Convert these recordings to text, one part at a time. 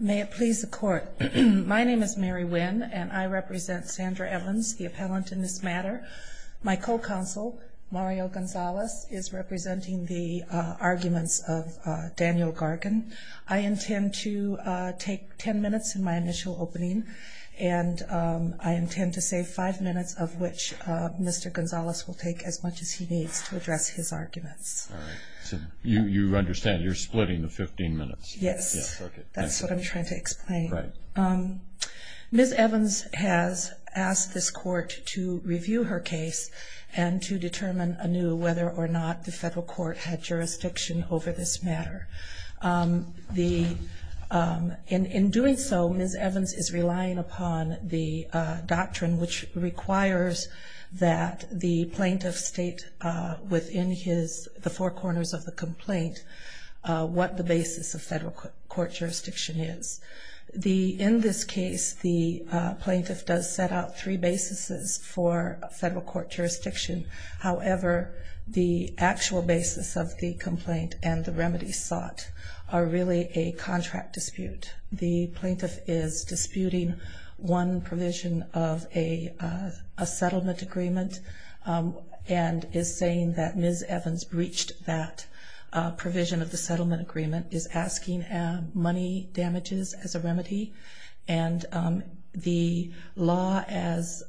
May it please the court. My name is Mary Wynn and I represent Sandra Evans, the appellant in this matter. My co-counsel Mario Gonzalez is representing the arguments of Daniel Gargan. I intend to take 10 minutes in my initial opening and I intend to save five minutes of which Mr. Gonzalez will take as much as he needs to address his arguments. You understand you're splitting the 15 minutes. Yes that's what I'm trying to explain. Ms. Evans has asked this court to review her case and to determine anew whether or not the federal court had jurisdiction over this matter. In doing so Ms. Evans is relying upon the doctrine which requires that the plaintiff state within his the four bases of federal court jurisdiction is. In this case the plaintiff does set out three bases for federal court jurisdiction. However, the actual basis of the complaint and the remedy sought are really a contract dispute. The plaintiff is disputing one provision of a settlement agreement and is saying that asking money damages as a remedy and the law as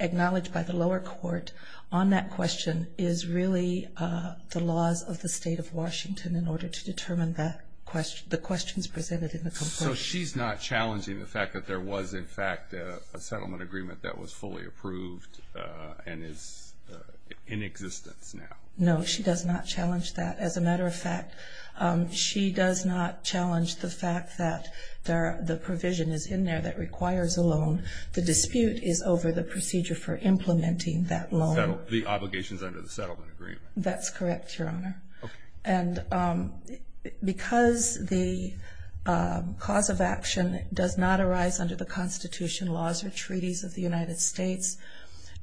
acknowledged by the lower court on that question is really the laws of the state of Washington in order to determine the questions presented in the complaint. So she's not challenging the fact that there was in fact a settlement agreement that was fully approved and is in existence now? No she does not challenge that. As a matter of fact she does not challenge the fact that the provision is in there that requires a loan. The dispute is over the procedure for implementing that loan. The obligations under the settlement agreement? That's correct Your Honor. And because the cause of action does not arise under the Constitution laws or treaties of the United States,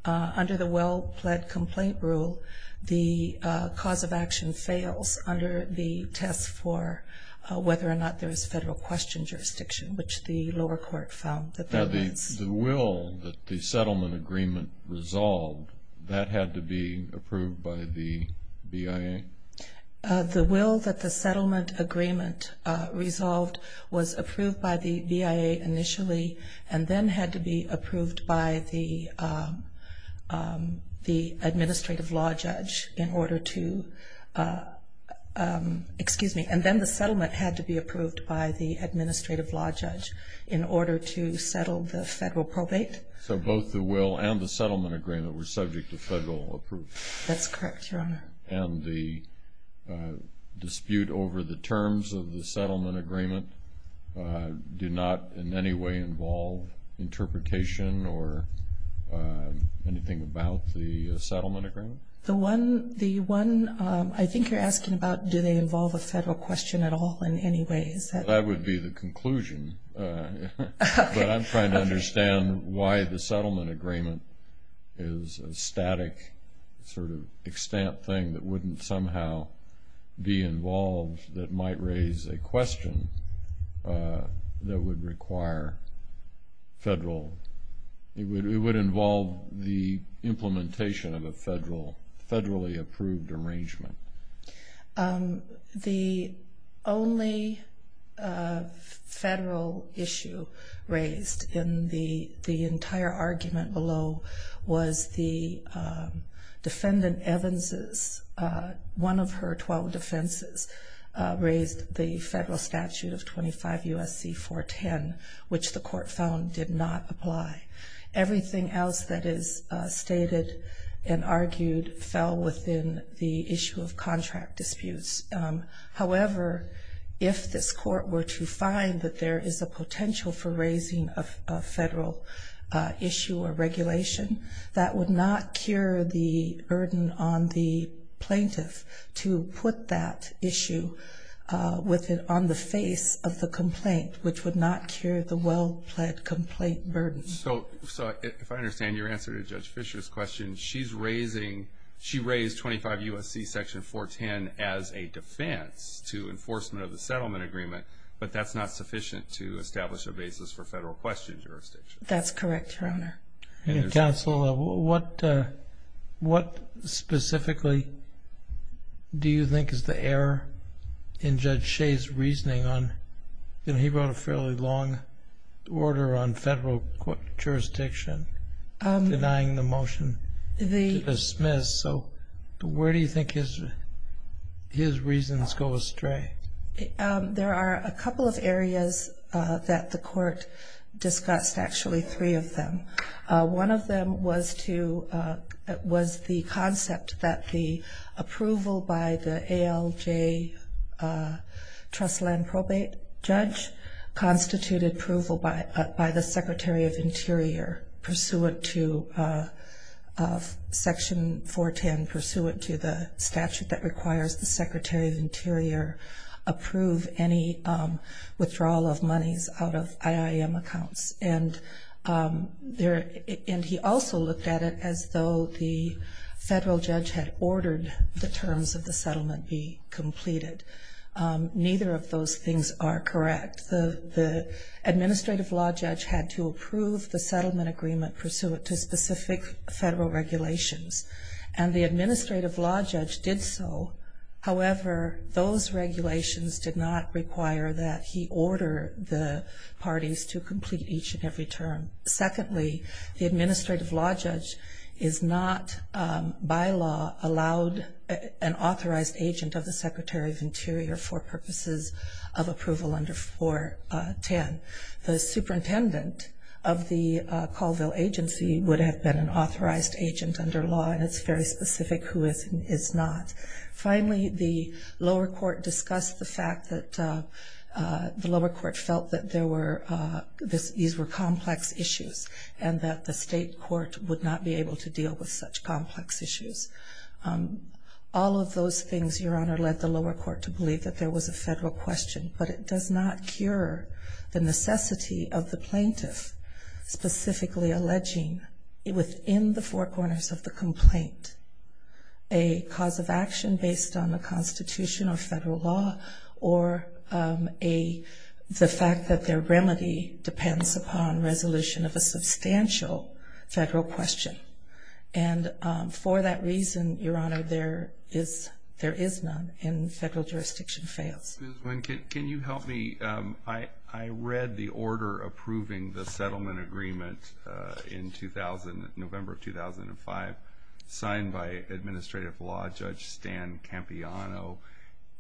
under the well-pled complaint rule the cause of action fails under the test for whether or not there is federal question jurisdiction which the lower court found that there was. Now the will that the settlement agreement resolved, that had to be approved by the BIA? The will that the settlement agreement resolved was approved by the BIA initially and then had to be approved by the administrative law judge in order to excuse me and then the settlement had to be approved by the administrative law judge in order to settle the federal probate. So both the will and the settlement agreement were subject to federal approval? That's correct Your Honor. And the dispute over the interpretation or anything about the settlement agreement? The one I think you're asking about, do they involve a federal question at all in any way? That would be the conclusion. But I'm trying to understand why the settlement agreement is a static sort of extant thing that wouldn't somehow be involved that might raise a question that would require federal, it would involve the implementation of a federal, federally approved arrangement. The only federal issue raised in the the entire argument below was the defendant Evans's, one of her 12 defenses, raised the federal statute of 25 U.S.C. 410, which the court found did not apply. Everything else that is stated and argued fell within the issue of contract disputes. However, if this court were to find that there is a potential for raising a federal issue or regulation, that would not cure the well-pledged complaint burden. So if I understand your answer to Judge Fisher's question, she raised 25 U.S.C. section 410 as a defense to enforcement of the settlement agreement, but that's not sufficient to establish a basis for federal question jurisdiction? That's correct, Your Honor. Counsel, what specifically do you think is the error in Judge Shea's reasoning on, you know, he wrote a fairly long order on federal jurisdiction, denying the motion to dismiss. So where do you think his reasons go astray? There are a couple of areas that the court discussed, actually three of them. One of them was the concept that the approval by the ALJ trust land probate judge constituted approval by the Secretary of Interior pursuant to approve any withdrawal of monies out of IIM accounts. And there, and he also looked at it as though the federal judge had ordered the terms of the settlement be completed. Neither of those things are correct. The administrative law judge had to approve the settlement agreement pursuant to specific federal regulations. And the administrative law judge did so. However, those regulations did not require that he order the parties to complete each and every term. Secondly, the administrative law judge is not, by law, allowed an authorized agent of the Secretary of Interior for purposes of approval under 410. The superintendent of the Colville agency would have been an authorized agent under law and it's very specific who is not. Finally, the lower court discussed the fact that the lower court felt that there were, these were complex issues and that the state court would not be able to deal with such complex issues. All of those things, Your Honor, led the lower court to believe that there was a federal question, but it does not cure the necessity of the plaintiff specifically alleging within the four corners of the complaint a cause of action based on the Constitution or federal law. Or a, the fact that their remedy depends upon resolution of a substantial federal question. And for that reason, Your Honor, there is, there is none, and federal jurisdiction fails. Excuse me, can you help me? I, I read the order approving the settlement agreement in 2000, November of 2005, signed by administrative law judge Stan Campiano.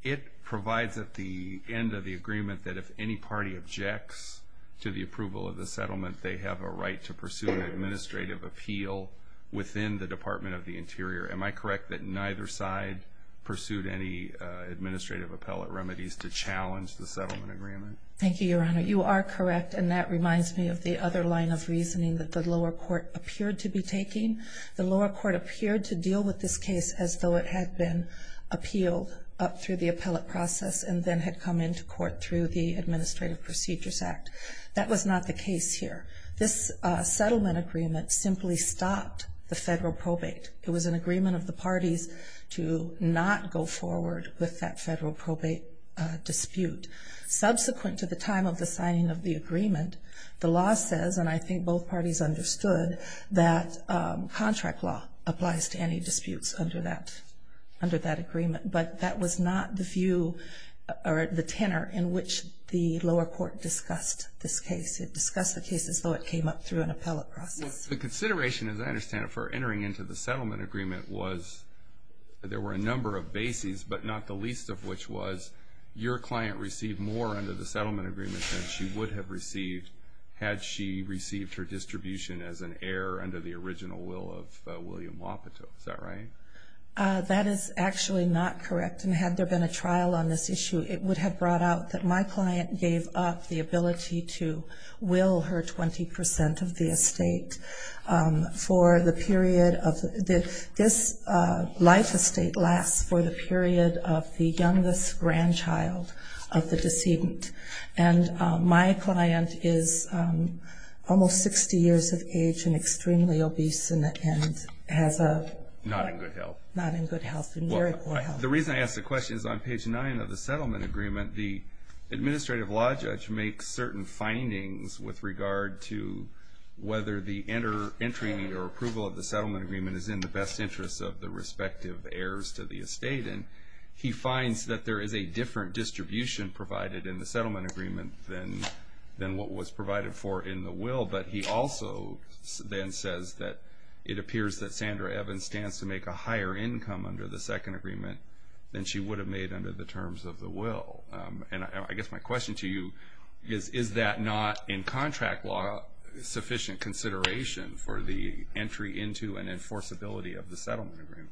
It provides at the end of the agreement that if any party objects to the approval of the settlement, they have a right to pursue an administrative appeal within the Department of the Interior. Am I correct that neither side pursued any administrative appellate remedies? To challenge the settlement agreement? Thank you, Your Honor. You are correct. And that reminds me of the other line of reasoning that the lower court appeared to be taking. The lower court appeared to deal with this case as though it had been appealed up through the appellate process and then had come into court through the Administrative Procedures Act. That was not the case here. This settlement agreement simply stopped the federal probate. It was an agreement of the parties to not go forward with that federal probate dispute. Subsequent to the time of the signing of the agreement, the law says, and I think both parties understood, that contract law applies to any disputes under that, under that agreement. But that was not the view or the tenor in which the lower court discussed this case. It discussed the case as though it came up through an appellate process. The consideration, as I understand it, for entering into the settlement agreement was that there were a number of bases, but not the least of which was your client received more under the settlement agreement than she would have received had she received her distribution as an heir under the original will of William Wapato. Is that right? That is actually not correct. And had there been a trial on this issue, it would have brought out that my client gave up the ability to will her 20 percent of the estate for the period of, this life estate lasts for the period of the youngest grandchild of the decedent. And my client is almost 60 years of age and extremely obese and has a Not in good health. Not in good health. Well, the reason I ask the question is on page 9 of the settlement agreement, the administrative law judge makes certain findings with regard to whether the entry or approval of the settlement agreement is in the best interest of the respective heirs to the estate. And he finds that there is a different distribution provided in the settlement agreement than what was provided for in the will. But he also then says that it appears that Sandra Evans stands to make a higher income under the second agreement than she would have made under the terms of the will. And I guess my question to you is, is that not in contract law sufficient consideration for the entry into and enforceability of the settlement agreement?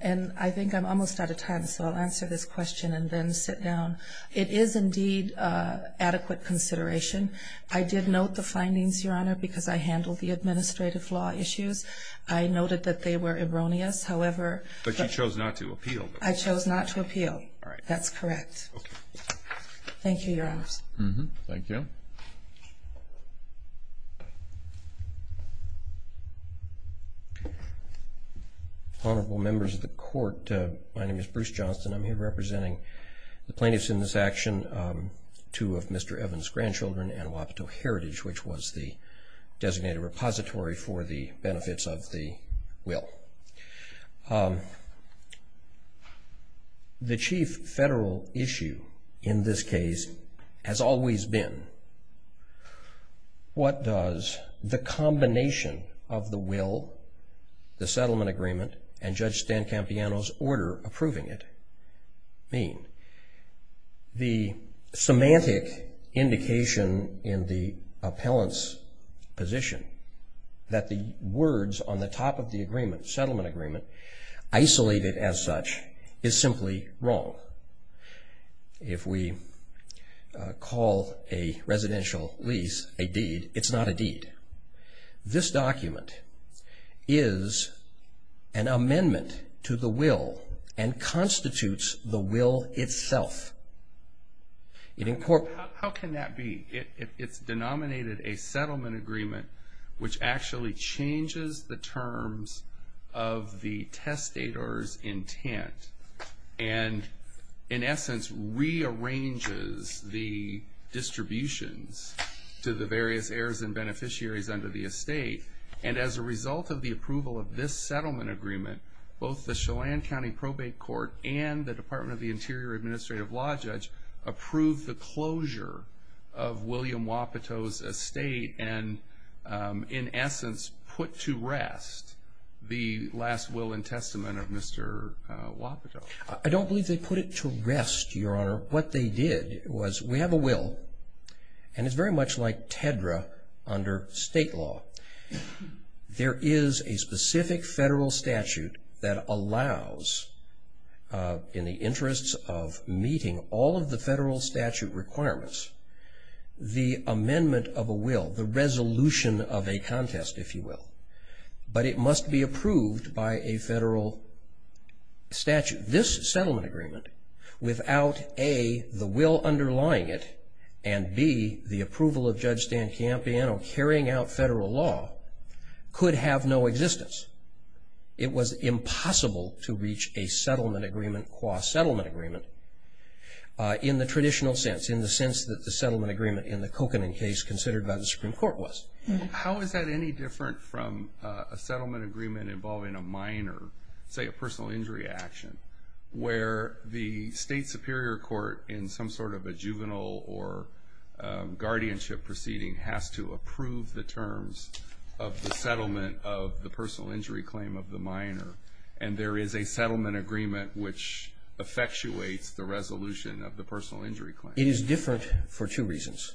And I think I'm almost out of time, so I'll answer this question and then sit down. It is indeed adequate consideration. I did note the findings, Your Honor, because I handled the administrative law issues. I noted that they were erroneous, however But you chose not to appeal. I chose not to appeal. All right. That's correct. Okay. Thank you, Your Honors. Thank you. Honorable members of the court, my name is Bruce Johnston. I'm here representing the plaintiffs in this action, two of Mr. Evans' grandchildren and Wapato Heritage, which was the designated repository for the benefits of the will. The chief federal issue in this case has always been what does the combination of the will, the settlement agreement, and Judge Stan Campiano's order approving it mean? The semantic indication in the appellant's position that the words on the top of the settlement agreement, isolated as such, is simply wrong. If we call a residential lease a deed, it's not a deed. This document is an amendment to the will and constitutes the will itself. How can that be? It's denominated a settlement agreement, which actually changes the terms of the testator's intent and, in essence, rearranges the distributions to the various heirs and beneficiaries under the estate. As a result of the approval of this settlement agreement, both the Chelan County Probate Court and the Department of the Interior Administrative Law Judge approved the closure of William Wapato's estate and, in essence, put to rest the last will and testament of Mr. Wapato. I don't believe they put it to rest, Your Honor. What they did was we have a will, and it's very much like TEDRA under state law. There is a specific federal statute that allows, in the interests of meeting all of the federal statute requirements, the amendment of a will, the resolution of a contest, if you will, but it must be approved by a federal statute. This settlement agreement, without, A, the will underlying it and, B, the approval of Judge Dan Campiano carrying out federal law, could have no existence. It was impossible to reach a settlement agreement qua settlement agreement in the traditional sense, in the sense that the settlement agreement in the Kokanen case considered by the Supreme Court was. How is that any different from a settlement agreement involving a minor, say a personal injury action, where the state superior court in some sort of a juvenile or guardianship proceeding has to approve the terms of the settlement of the personal injury claim of the minor, and there is a settlement agreement which effectuates the resolution of the personal injury claim? It is different for two reasons.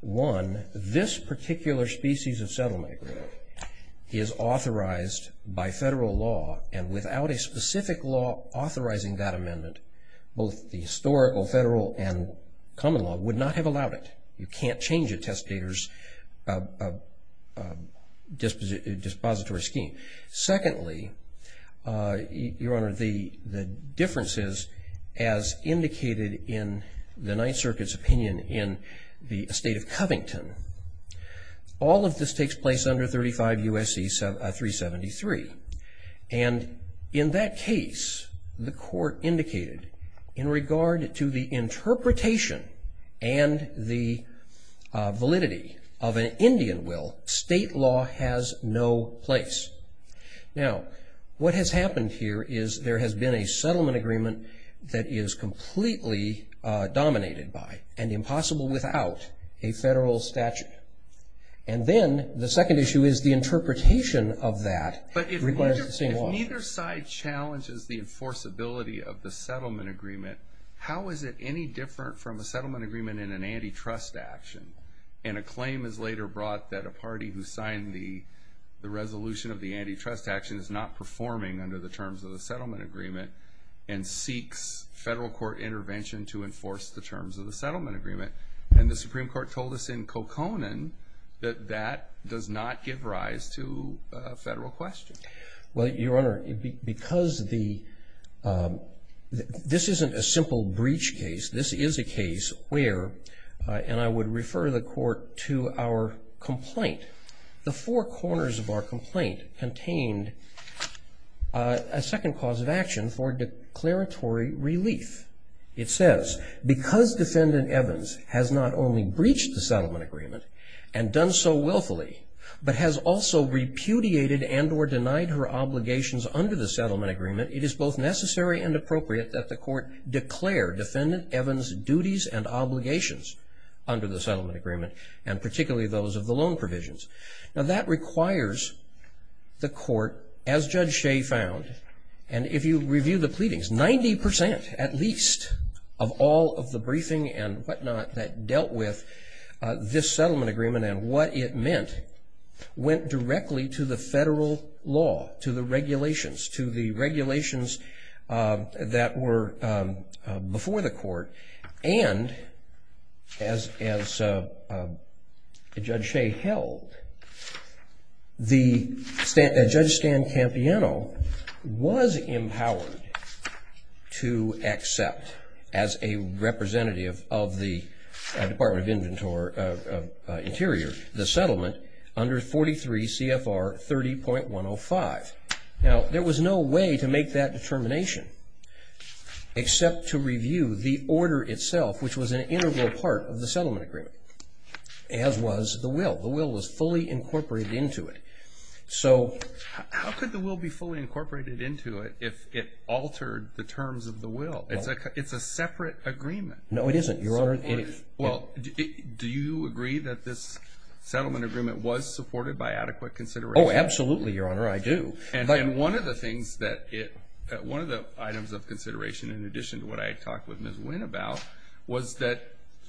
One, this particular species of settlement agreement is authorized by federal law, and without a specific law authorizing that amendment, both the historical federal and common law would not have allowed it. You can't change a testator's dispository scheme. Secondly, Your Honor, the differences as indicated in the Ninth Circuit's opinion in the state of Covington, all of this takes place under 35 U.S.C. 373, and in that case, the court indicated in regard to the interpretation and the validity of an Indian will, state law has no place. Now, what has happened here is there has been a settlement agreement that is completely dominated by, and impossible without, a federal statute. And then, the second issue is the interpretation of that requires the same law. When either side challenges the enforceability of the settlement agreement, how is it any different from a settlement agreement in an antitrust action? And a claim is later brought that a party who signed the resolution of the antitrust action is not performing under the terms of the settlement agreement and seeks federal court intervention to enforce the terms of the settlement agreement. And the Supreme Court told us in Kokonan that that does not give rise to a federal question. Well, Your Honor, because this isn't a simple breach case. This is a case where, and I would refer the court to our complaint, the four corners of our complaint contained a second cause of action for declaratory relief. It says, because Defendant Evans has not only breached the settlement agreement and done so willfully, but has also repudiated and or denied her obligations under the settlement agreement, it is both necessary and appropriate that the court declare Defendant Evans' duties and obligations under the settlement agreement, and particularly those of the loan provisions. Now that requires the court, as Judge Shea found, and if you review the pleadings, 90% at least of all of the briefing and whatnot that dealt with this settlement agreement and what it meant, went directly to the federal law, to the regulations, to the regulations that were before the court, and as Judge Shea held, Judge Stan Campiano was empowered to accept, as a representative of the Department of Interior, the settlement under 43 CFR 30.105. Now, there was no way to make that determination except to review the order itself, which was an integral part of the settlement agreement, as was the will. The will was fully incorporated into it. How could the will be fully incorporated into it if it altered the terms of the will? It's a separate agreement. No, it isn't, Your Honor. Do you agree that this settlement agreement was supported by adequate consideration? Oh, absolutely, Your Honor, I do. And one of the things that it, one of the items of consideration, in addition to what I talked with Ms. Winn about, was that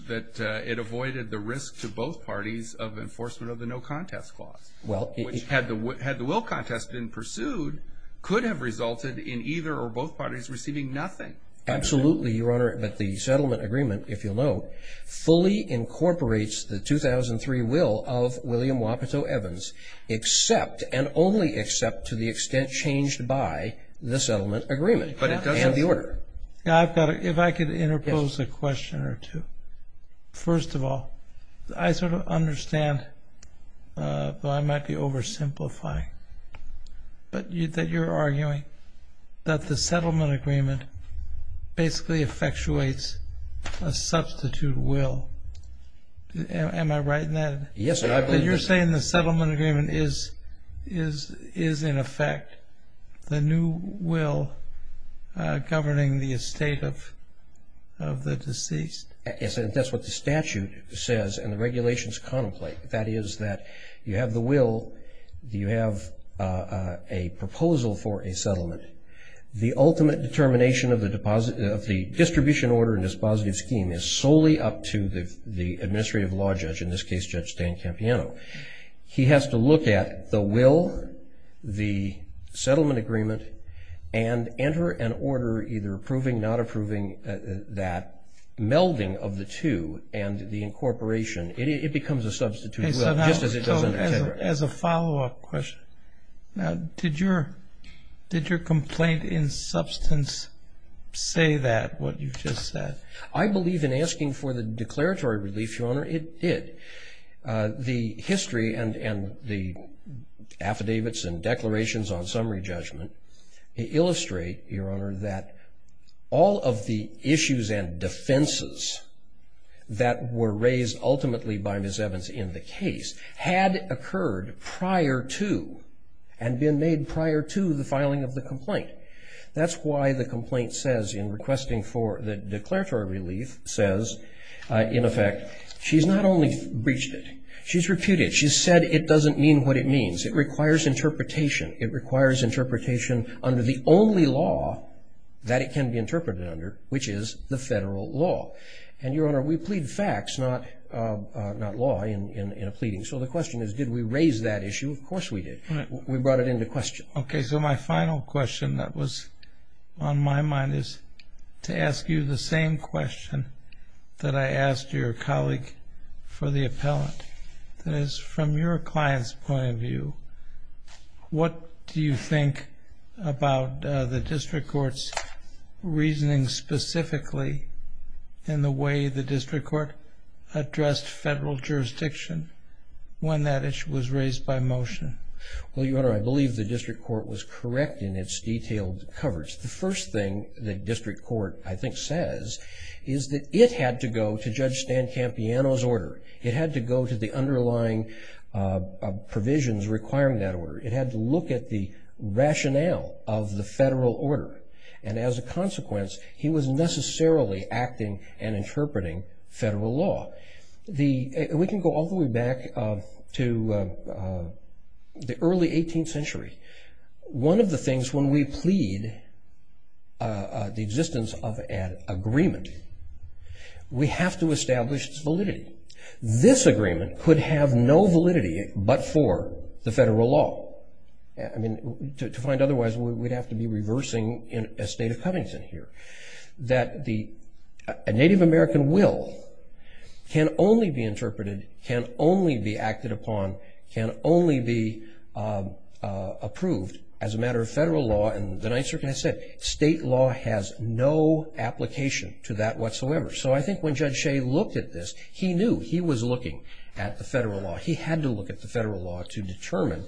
it avoided the risk to both parties of enforcement of the no contest clause. Well, it... Which, had the will contest been pursued, could have resulted in either or both parties receiving nothing. Absolutely, Your Honor, but the settlement agreement, if you'll note, fully incorporates the 2003 will of William Wapato Evans, except and only except to the extent changed by the settlement agreement and the order. Now, if I could interpose a question or two. First of all, I sort of understand, though I might be oversimplifying, but that you're arguing that the settlement agreement basically effectuates a substitute will. Am I right in that? Yes, and I believe that... But you're saying the settlement agreement is, in effect, the new will governing the estate of the deceased? That's what the statute says and the regulations contemplate. That is that you have the will, you have a proposal for a settlement. The ultimate determination of the distribution order and dispositive scheme is solely up to the administrative law judge, in this case, Judge Dan Campiano. He has to look at the will, the settlement agreement, and enter an order either approving or not approving that melding of the two and the incorporation. It becomes a substitute will, just as it doesn't... As a follow-up question, did your complaint in substance say that, what you've just said? I believe in asking for the declaratory relief, Your Honor, it did. The history and the affidavits and declarations on summary judgment illustrate, Your Honor, that all of the issues and defenses that were raised ultimately by Ms. Evans in the case had occurred prior to and been made prior to the filing of the complaint. That's why the complaint says in requesting for the declaratory relief says, in effect, she's not only breached it. She's reputed. She's said it doesn't mean what it means. It requires interpretation. It requires interpretation under the only law that it can be interpreted under, which is the federal law. And, Your Honor, we plead facts, not law, in a pleading. So the question is, did we raise that issue? Of course we did. We brought it into question. Okay. So my final question that was on my mind is to ask you the same question that I asked your colleague for the appellant. That is, from your client's point of view, what do you think about the district court's reasoning specifically in the way the district court addressed federal jurisdiction when that issue was raised by motion? Well, Your Honor, I believe the district court was correct in its detailed coverage. The first thing the district court, I think, says is that it had to go to Judge Stan Campiano's order. It had to go to the underlying provisions requiring that order. It had to look at the rationale of the federal order. And as a consequence, he was necessarily acting and interpreting federal law. We can go all the way back to the early 18th century. One of the things when we plead the existence of an agreement, we have to establish its validity. This agreement could have no validity but for the federal law. I mean, to find otherwise, we'd have to be reversing a state of Cunnington here. A Native American will can only be interpreted, can only be acted upon, can only be approved as a matter of federal law. And the Ninth Circuit has said state law has no application to that whatsoever. So I think when Judge Shea looked at this, he knew he was looking at the federal law. He had to look at the federal law to determine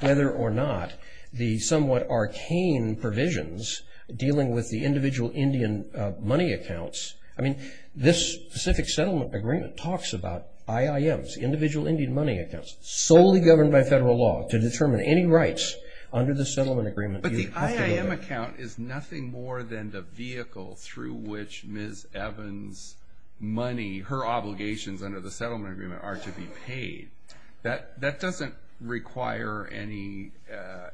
whether or not the somewhat arcane provisions dealing with the individual Indian money accounts. I mean, this specific settlement agreement talks about IIMs, individual Indian money accounts, solely governed by federal law to determine any rights under the settlement agreement. But the IIM account is nothing more than the vehicle through which Ms. Evans' money, her obligations under the settlement agreement are to be paid. That doesn't require any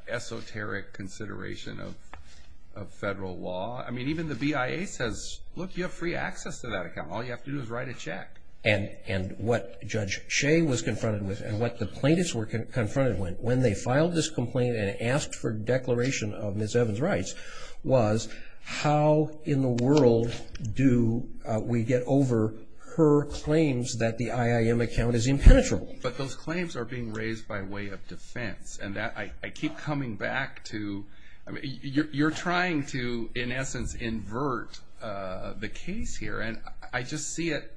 esoteric consideration of federal law. I mean, even the BIA says, look, you have free access to that account. All you have to do is write a check. And what Judge Shea was confronted with and what the plaintiffs were confronted with, when they filed this complaint and asked for declaration of Ms. Evans' rights, was how in the world do we get over her claims that the IIM account is impenetrable? But those claims are being raised by way of defense. And I keep coming back to, you're trying to, in essence, invert the case here. And I just see it,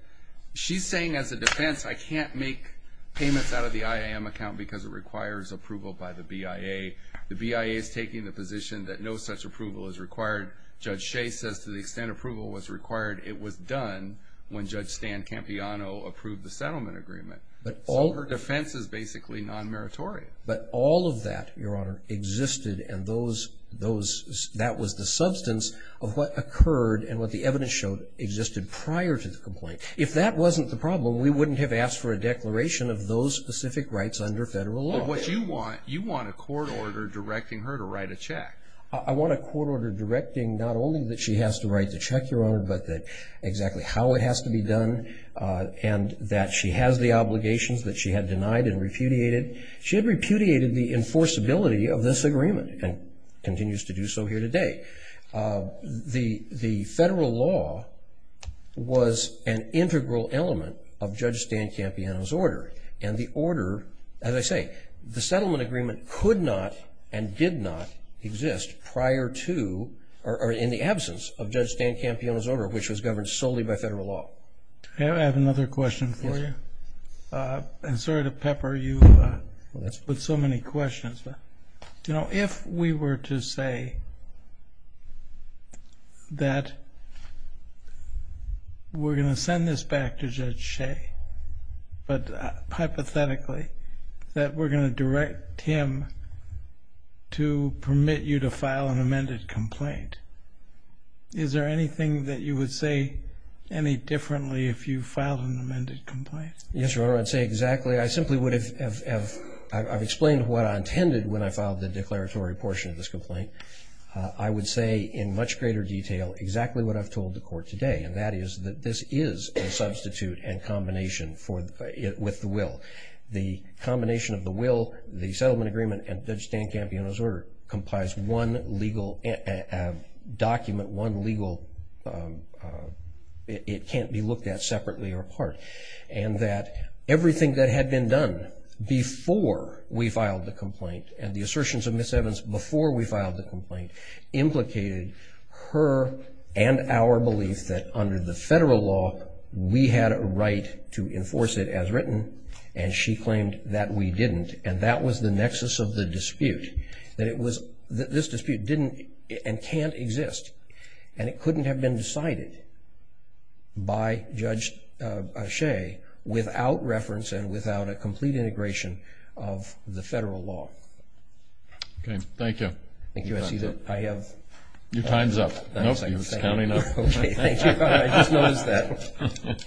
she's saying as a defense, I can't make payments out of the IIM account because it requires approval by the BIA. The BIA is taking the position that no such approval is required. Judge Shea says to the extent approval was required, it was done when Judge Stan Campiano approved the settlement agreement. So her defense is basically non-meritorious. But all of that, Your Honor, existed and that was the substance of what occurred and what the evidence showed existed prior to the complaint. If that wasn't the problem, we wouldn't have asked for a declaration of those specific rights under federal law. But what you want, you want a court order directing her to write a check. I want a court order directing not only that she has to write the check, Your Honor, but that exactly how it has to be done and that she has the obligations that she had denied and repudiated. She had repudiated the enforceability of this agreement and continues to do so here today. The federal law was an integral element of Judge Stan Campiano's order. And the order, as I say, the settlement agreement could not and did not exist prior to or in the absence of Judge Stan Campiano's order, which was governed solely by federal law. I have another question for you. And sorry to pepper you with so many questions. You know, if we were to say that we're going to send this back to Judge Shea, but hypothetically that we're going to direct him to permit you to file an amended complaint, is there anything that you would say any differently if you filed an amended complaint? Yes, Your Honor, I'd say exactly. I simply would have explained what I intended when I filed the declaratory portion of this complaint. I would say in much greater detail exactly what I've told the court today, and that is that this is a substitute and combination with the will. The combination of the will, the settlement agreement, and Judge Stan Campiano's order complies one legal document, one legal it can't be looked at separately or apart. And that everything that had been done before we filed the complaint and the assertions of Ms. Evans before we filed the complaint implicated her and our belief that under the federal law, we had a right to enforce it as written, and she claimed that we didn't. And that was the nexus of the dispute, that this dispute didn't and can't exist, and it couldn't have been decided by Judge Ashae without reference and without a complete integration of the federal law. Okay, thank you. Thank you. I see that I have... Your time's up. Nope, it's counting up. Okay, thank you. I just noticed that.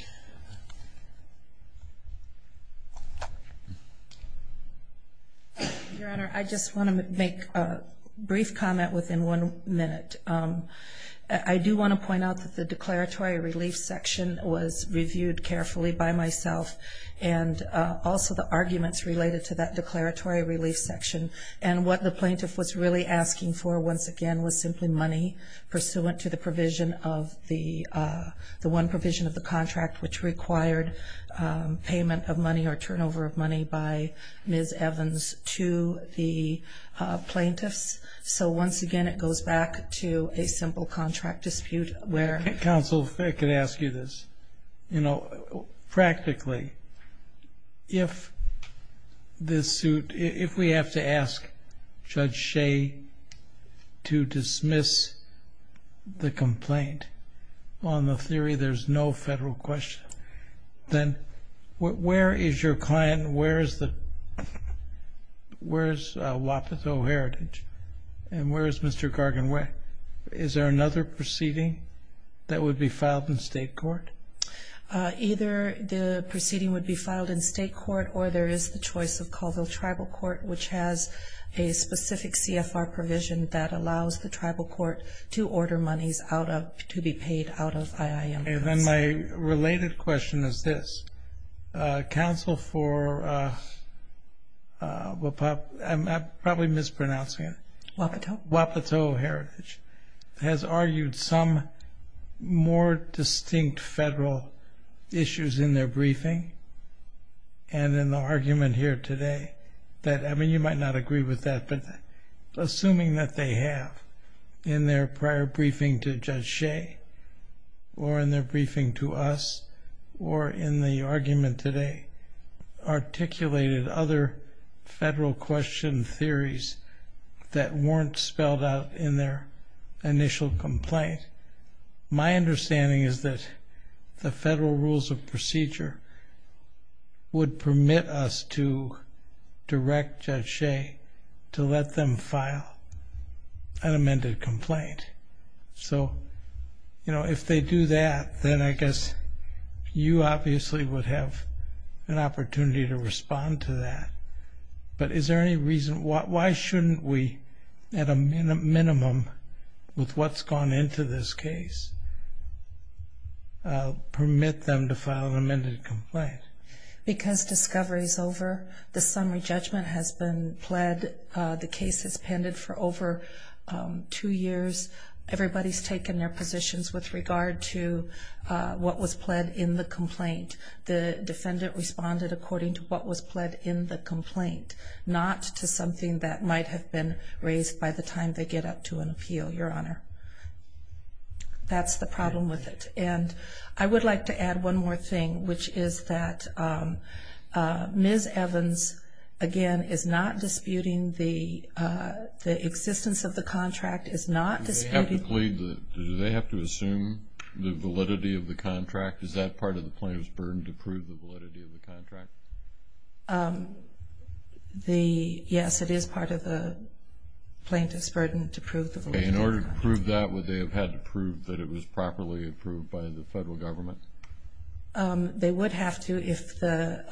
Your Honor, I just want to make a brief comment within one minute. I do want to point out that the declaratory relief section was reviewed carefully by myself and also the arguments related to that declaratory relief section, and what the plaintiff was really asking for, once again, was simply money pursuant to the provision of the one provision of the statute which required payment of money or turnover of money by Ms. Evans to the plaintiffs. So once again, it goes back to a simple contract dispute where... Counsel, if I could ask you this. You know, practically, if this suit, if we have to ask Judge Ashae to dismiss the complaint on the theory there's no federal question, then where is your client, where is Wapato Heritage, and where is Mr. Gargan? Is there another proceeding that would be filed in state court? Either the proceeding would be filed in state court or there is the choice of Colville Tribal Court, which has a specific CFR provision that allows the tribal court to order monies to be paid out of IIM. My related question is this. Counsel for Wapato Heritage has argued some more distinct federal issues in their briefing and in the argument here today. I mean, you might not agree with that, but assuming that they have in their prior briefing to Judge Ashae or in their briefing to us or in the argument today articulated other federal question theories that weren't spelled out in their initial complaint, my understanding is that the federal rules of procedure would permit us to direct Judge Ashae to let them file an amended complaint. So if they do that, then I guess you obviously would have an opportunity to respond to that. But is there any reason? Why shouldn't we, at a minimum, with what's gone into this case, permit them to file an amended complaint? Because discovery is over. The summary judgment has been pled. The case has pended for over two years. Everybody has taken their positions with regard to what was pled in the complaint. The defendant responded according to what was pled in the complaint, not to something that might have been raised by the time they get up to an appeal, Your Honor. That's the problem with it. And I would like to add one more thing, which is that Ms. Evans, again, is not disputing the existence of the contract, is not disputing the- Do they have to assume the validity of the contract? Is that part of the plaintiff's burden to prove the validity of the contract? Yes, it is part of the plaintiff's burden to prove the validity of the contract. Okay. In order to prove that, would they have had to prove that it was properly approved by the federal government? They would have to if the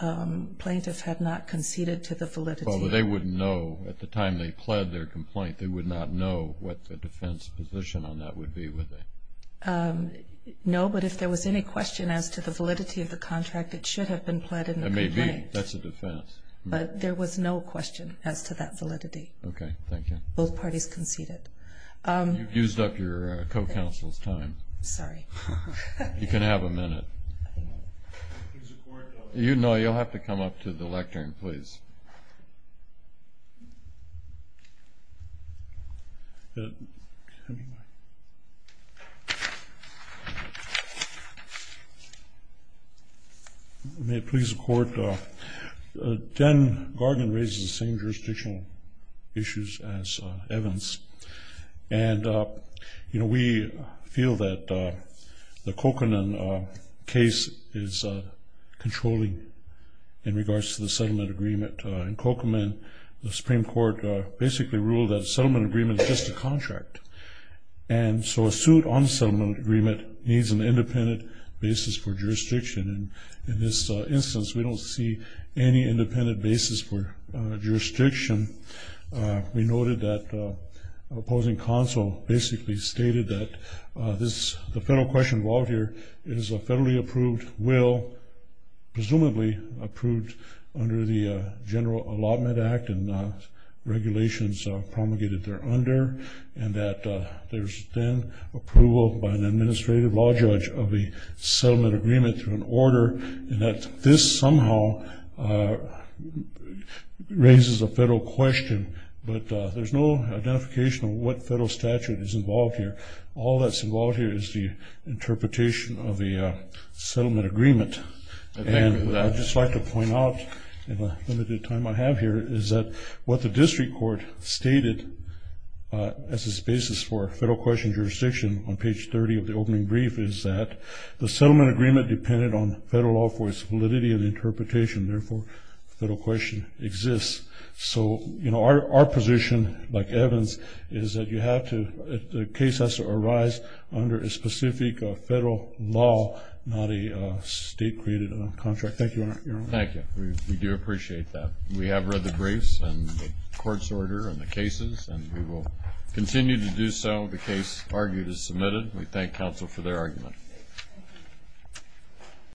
plaintiff had not conceded to the validity. Well, they wouldn't know. At the time they pled their complaint, they would not know what the defense position on that would be, would they? No, but if there was any question as to the validity of the contract, it should have been pled in the complaint. It may be. That's a defense. But there was no question as to that validity. Okay. Thank you. Both parties conceded. You've used up your co-counsel's time. Sorry. You can have a minute. No, you'll have to come up to the lectern, please. Okay. May it please the Court. Jen Gargan raises the same jurisdictional issues as Evans. And, you know, we feel that the Kokoman case is controlling in regards to the settlement agreement. In Kokoman, the Supreme Court basically ruled that a settlement agreement is just a contract. And so a suit on a settlement agreement needs an independent basis for jurisdiction. And in this instance, we don't see any independent basis for jurisdiction. We noted that opposing counsel basically stated that this, the federal question involved here, is a federally approved will, presumably approved under the General Allotment Act and regulations promulgated thereunder, and that there's then approval by an administrative law judge of the settlement agreement and that this somehow raises a federal question. But there's no identification of what federal statute is involved here. All that's involved here is the interpretation of the settlement agreement. And I'd just like to point out, in the limited time I have here, is that what the district court stated as its basis for federal question jurisdiction on page 30 of the opening brief is that the settlement agreement depended on federal law for its validity and interpretation. Therefore, the federal question exists. So, you know, our position, like Evan's, is that you have to, the case has to arise under a specific federal law, not a state-created contract. Thank you, Your Honor. Thank you. We do appreciate that. We have read the briefs and the court's order and the cases, and we will continue to do so. The case argued is submitted. We thank counsel for their argument.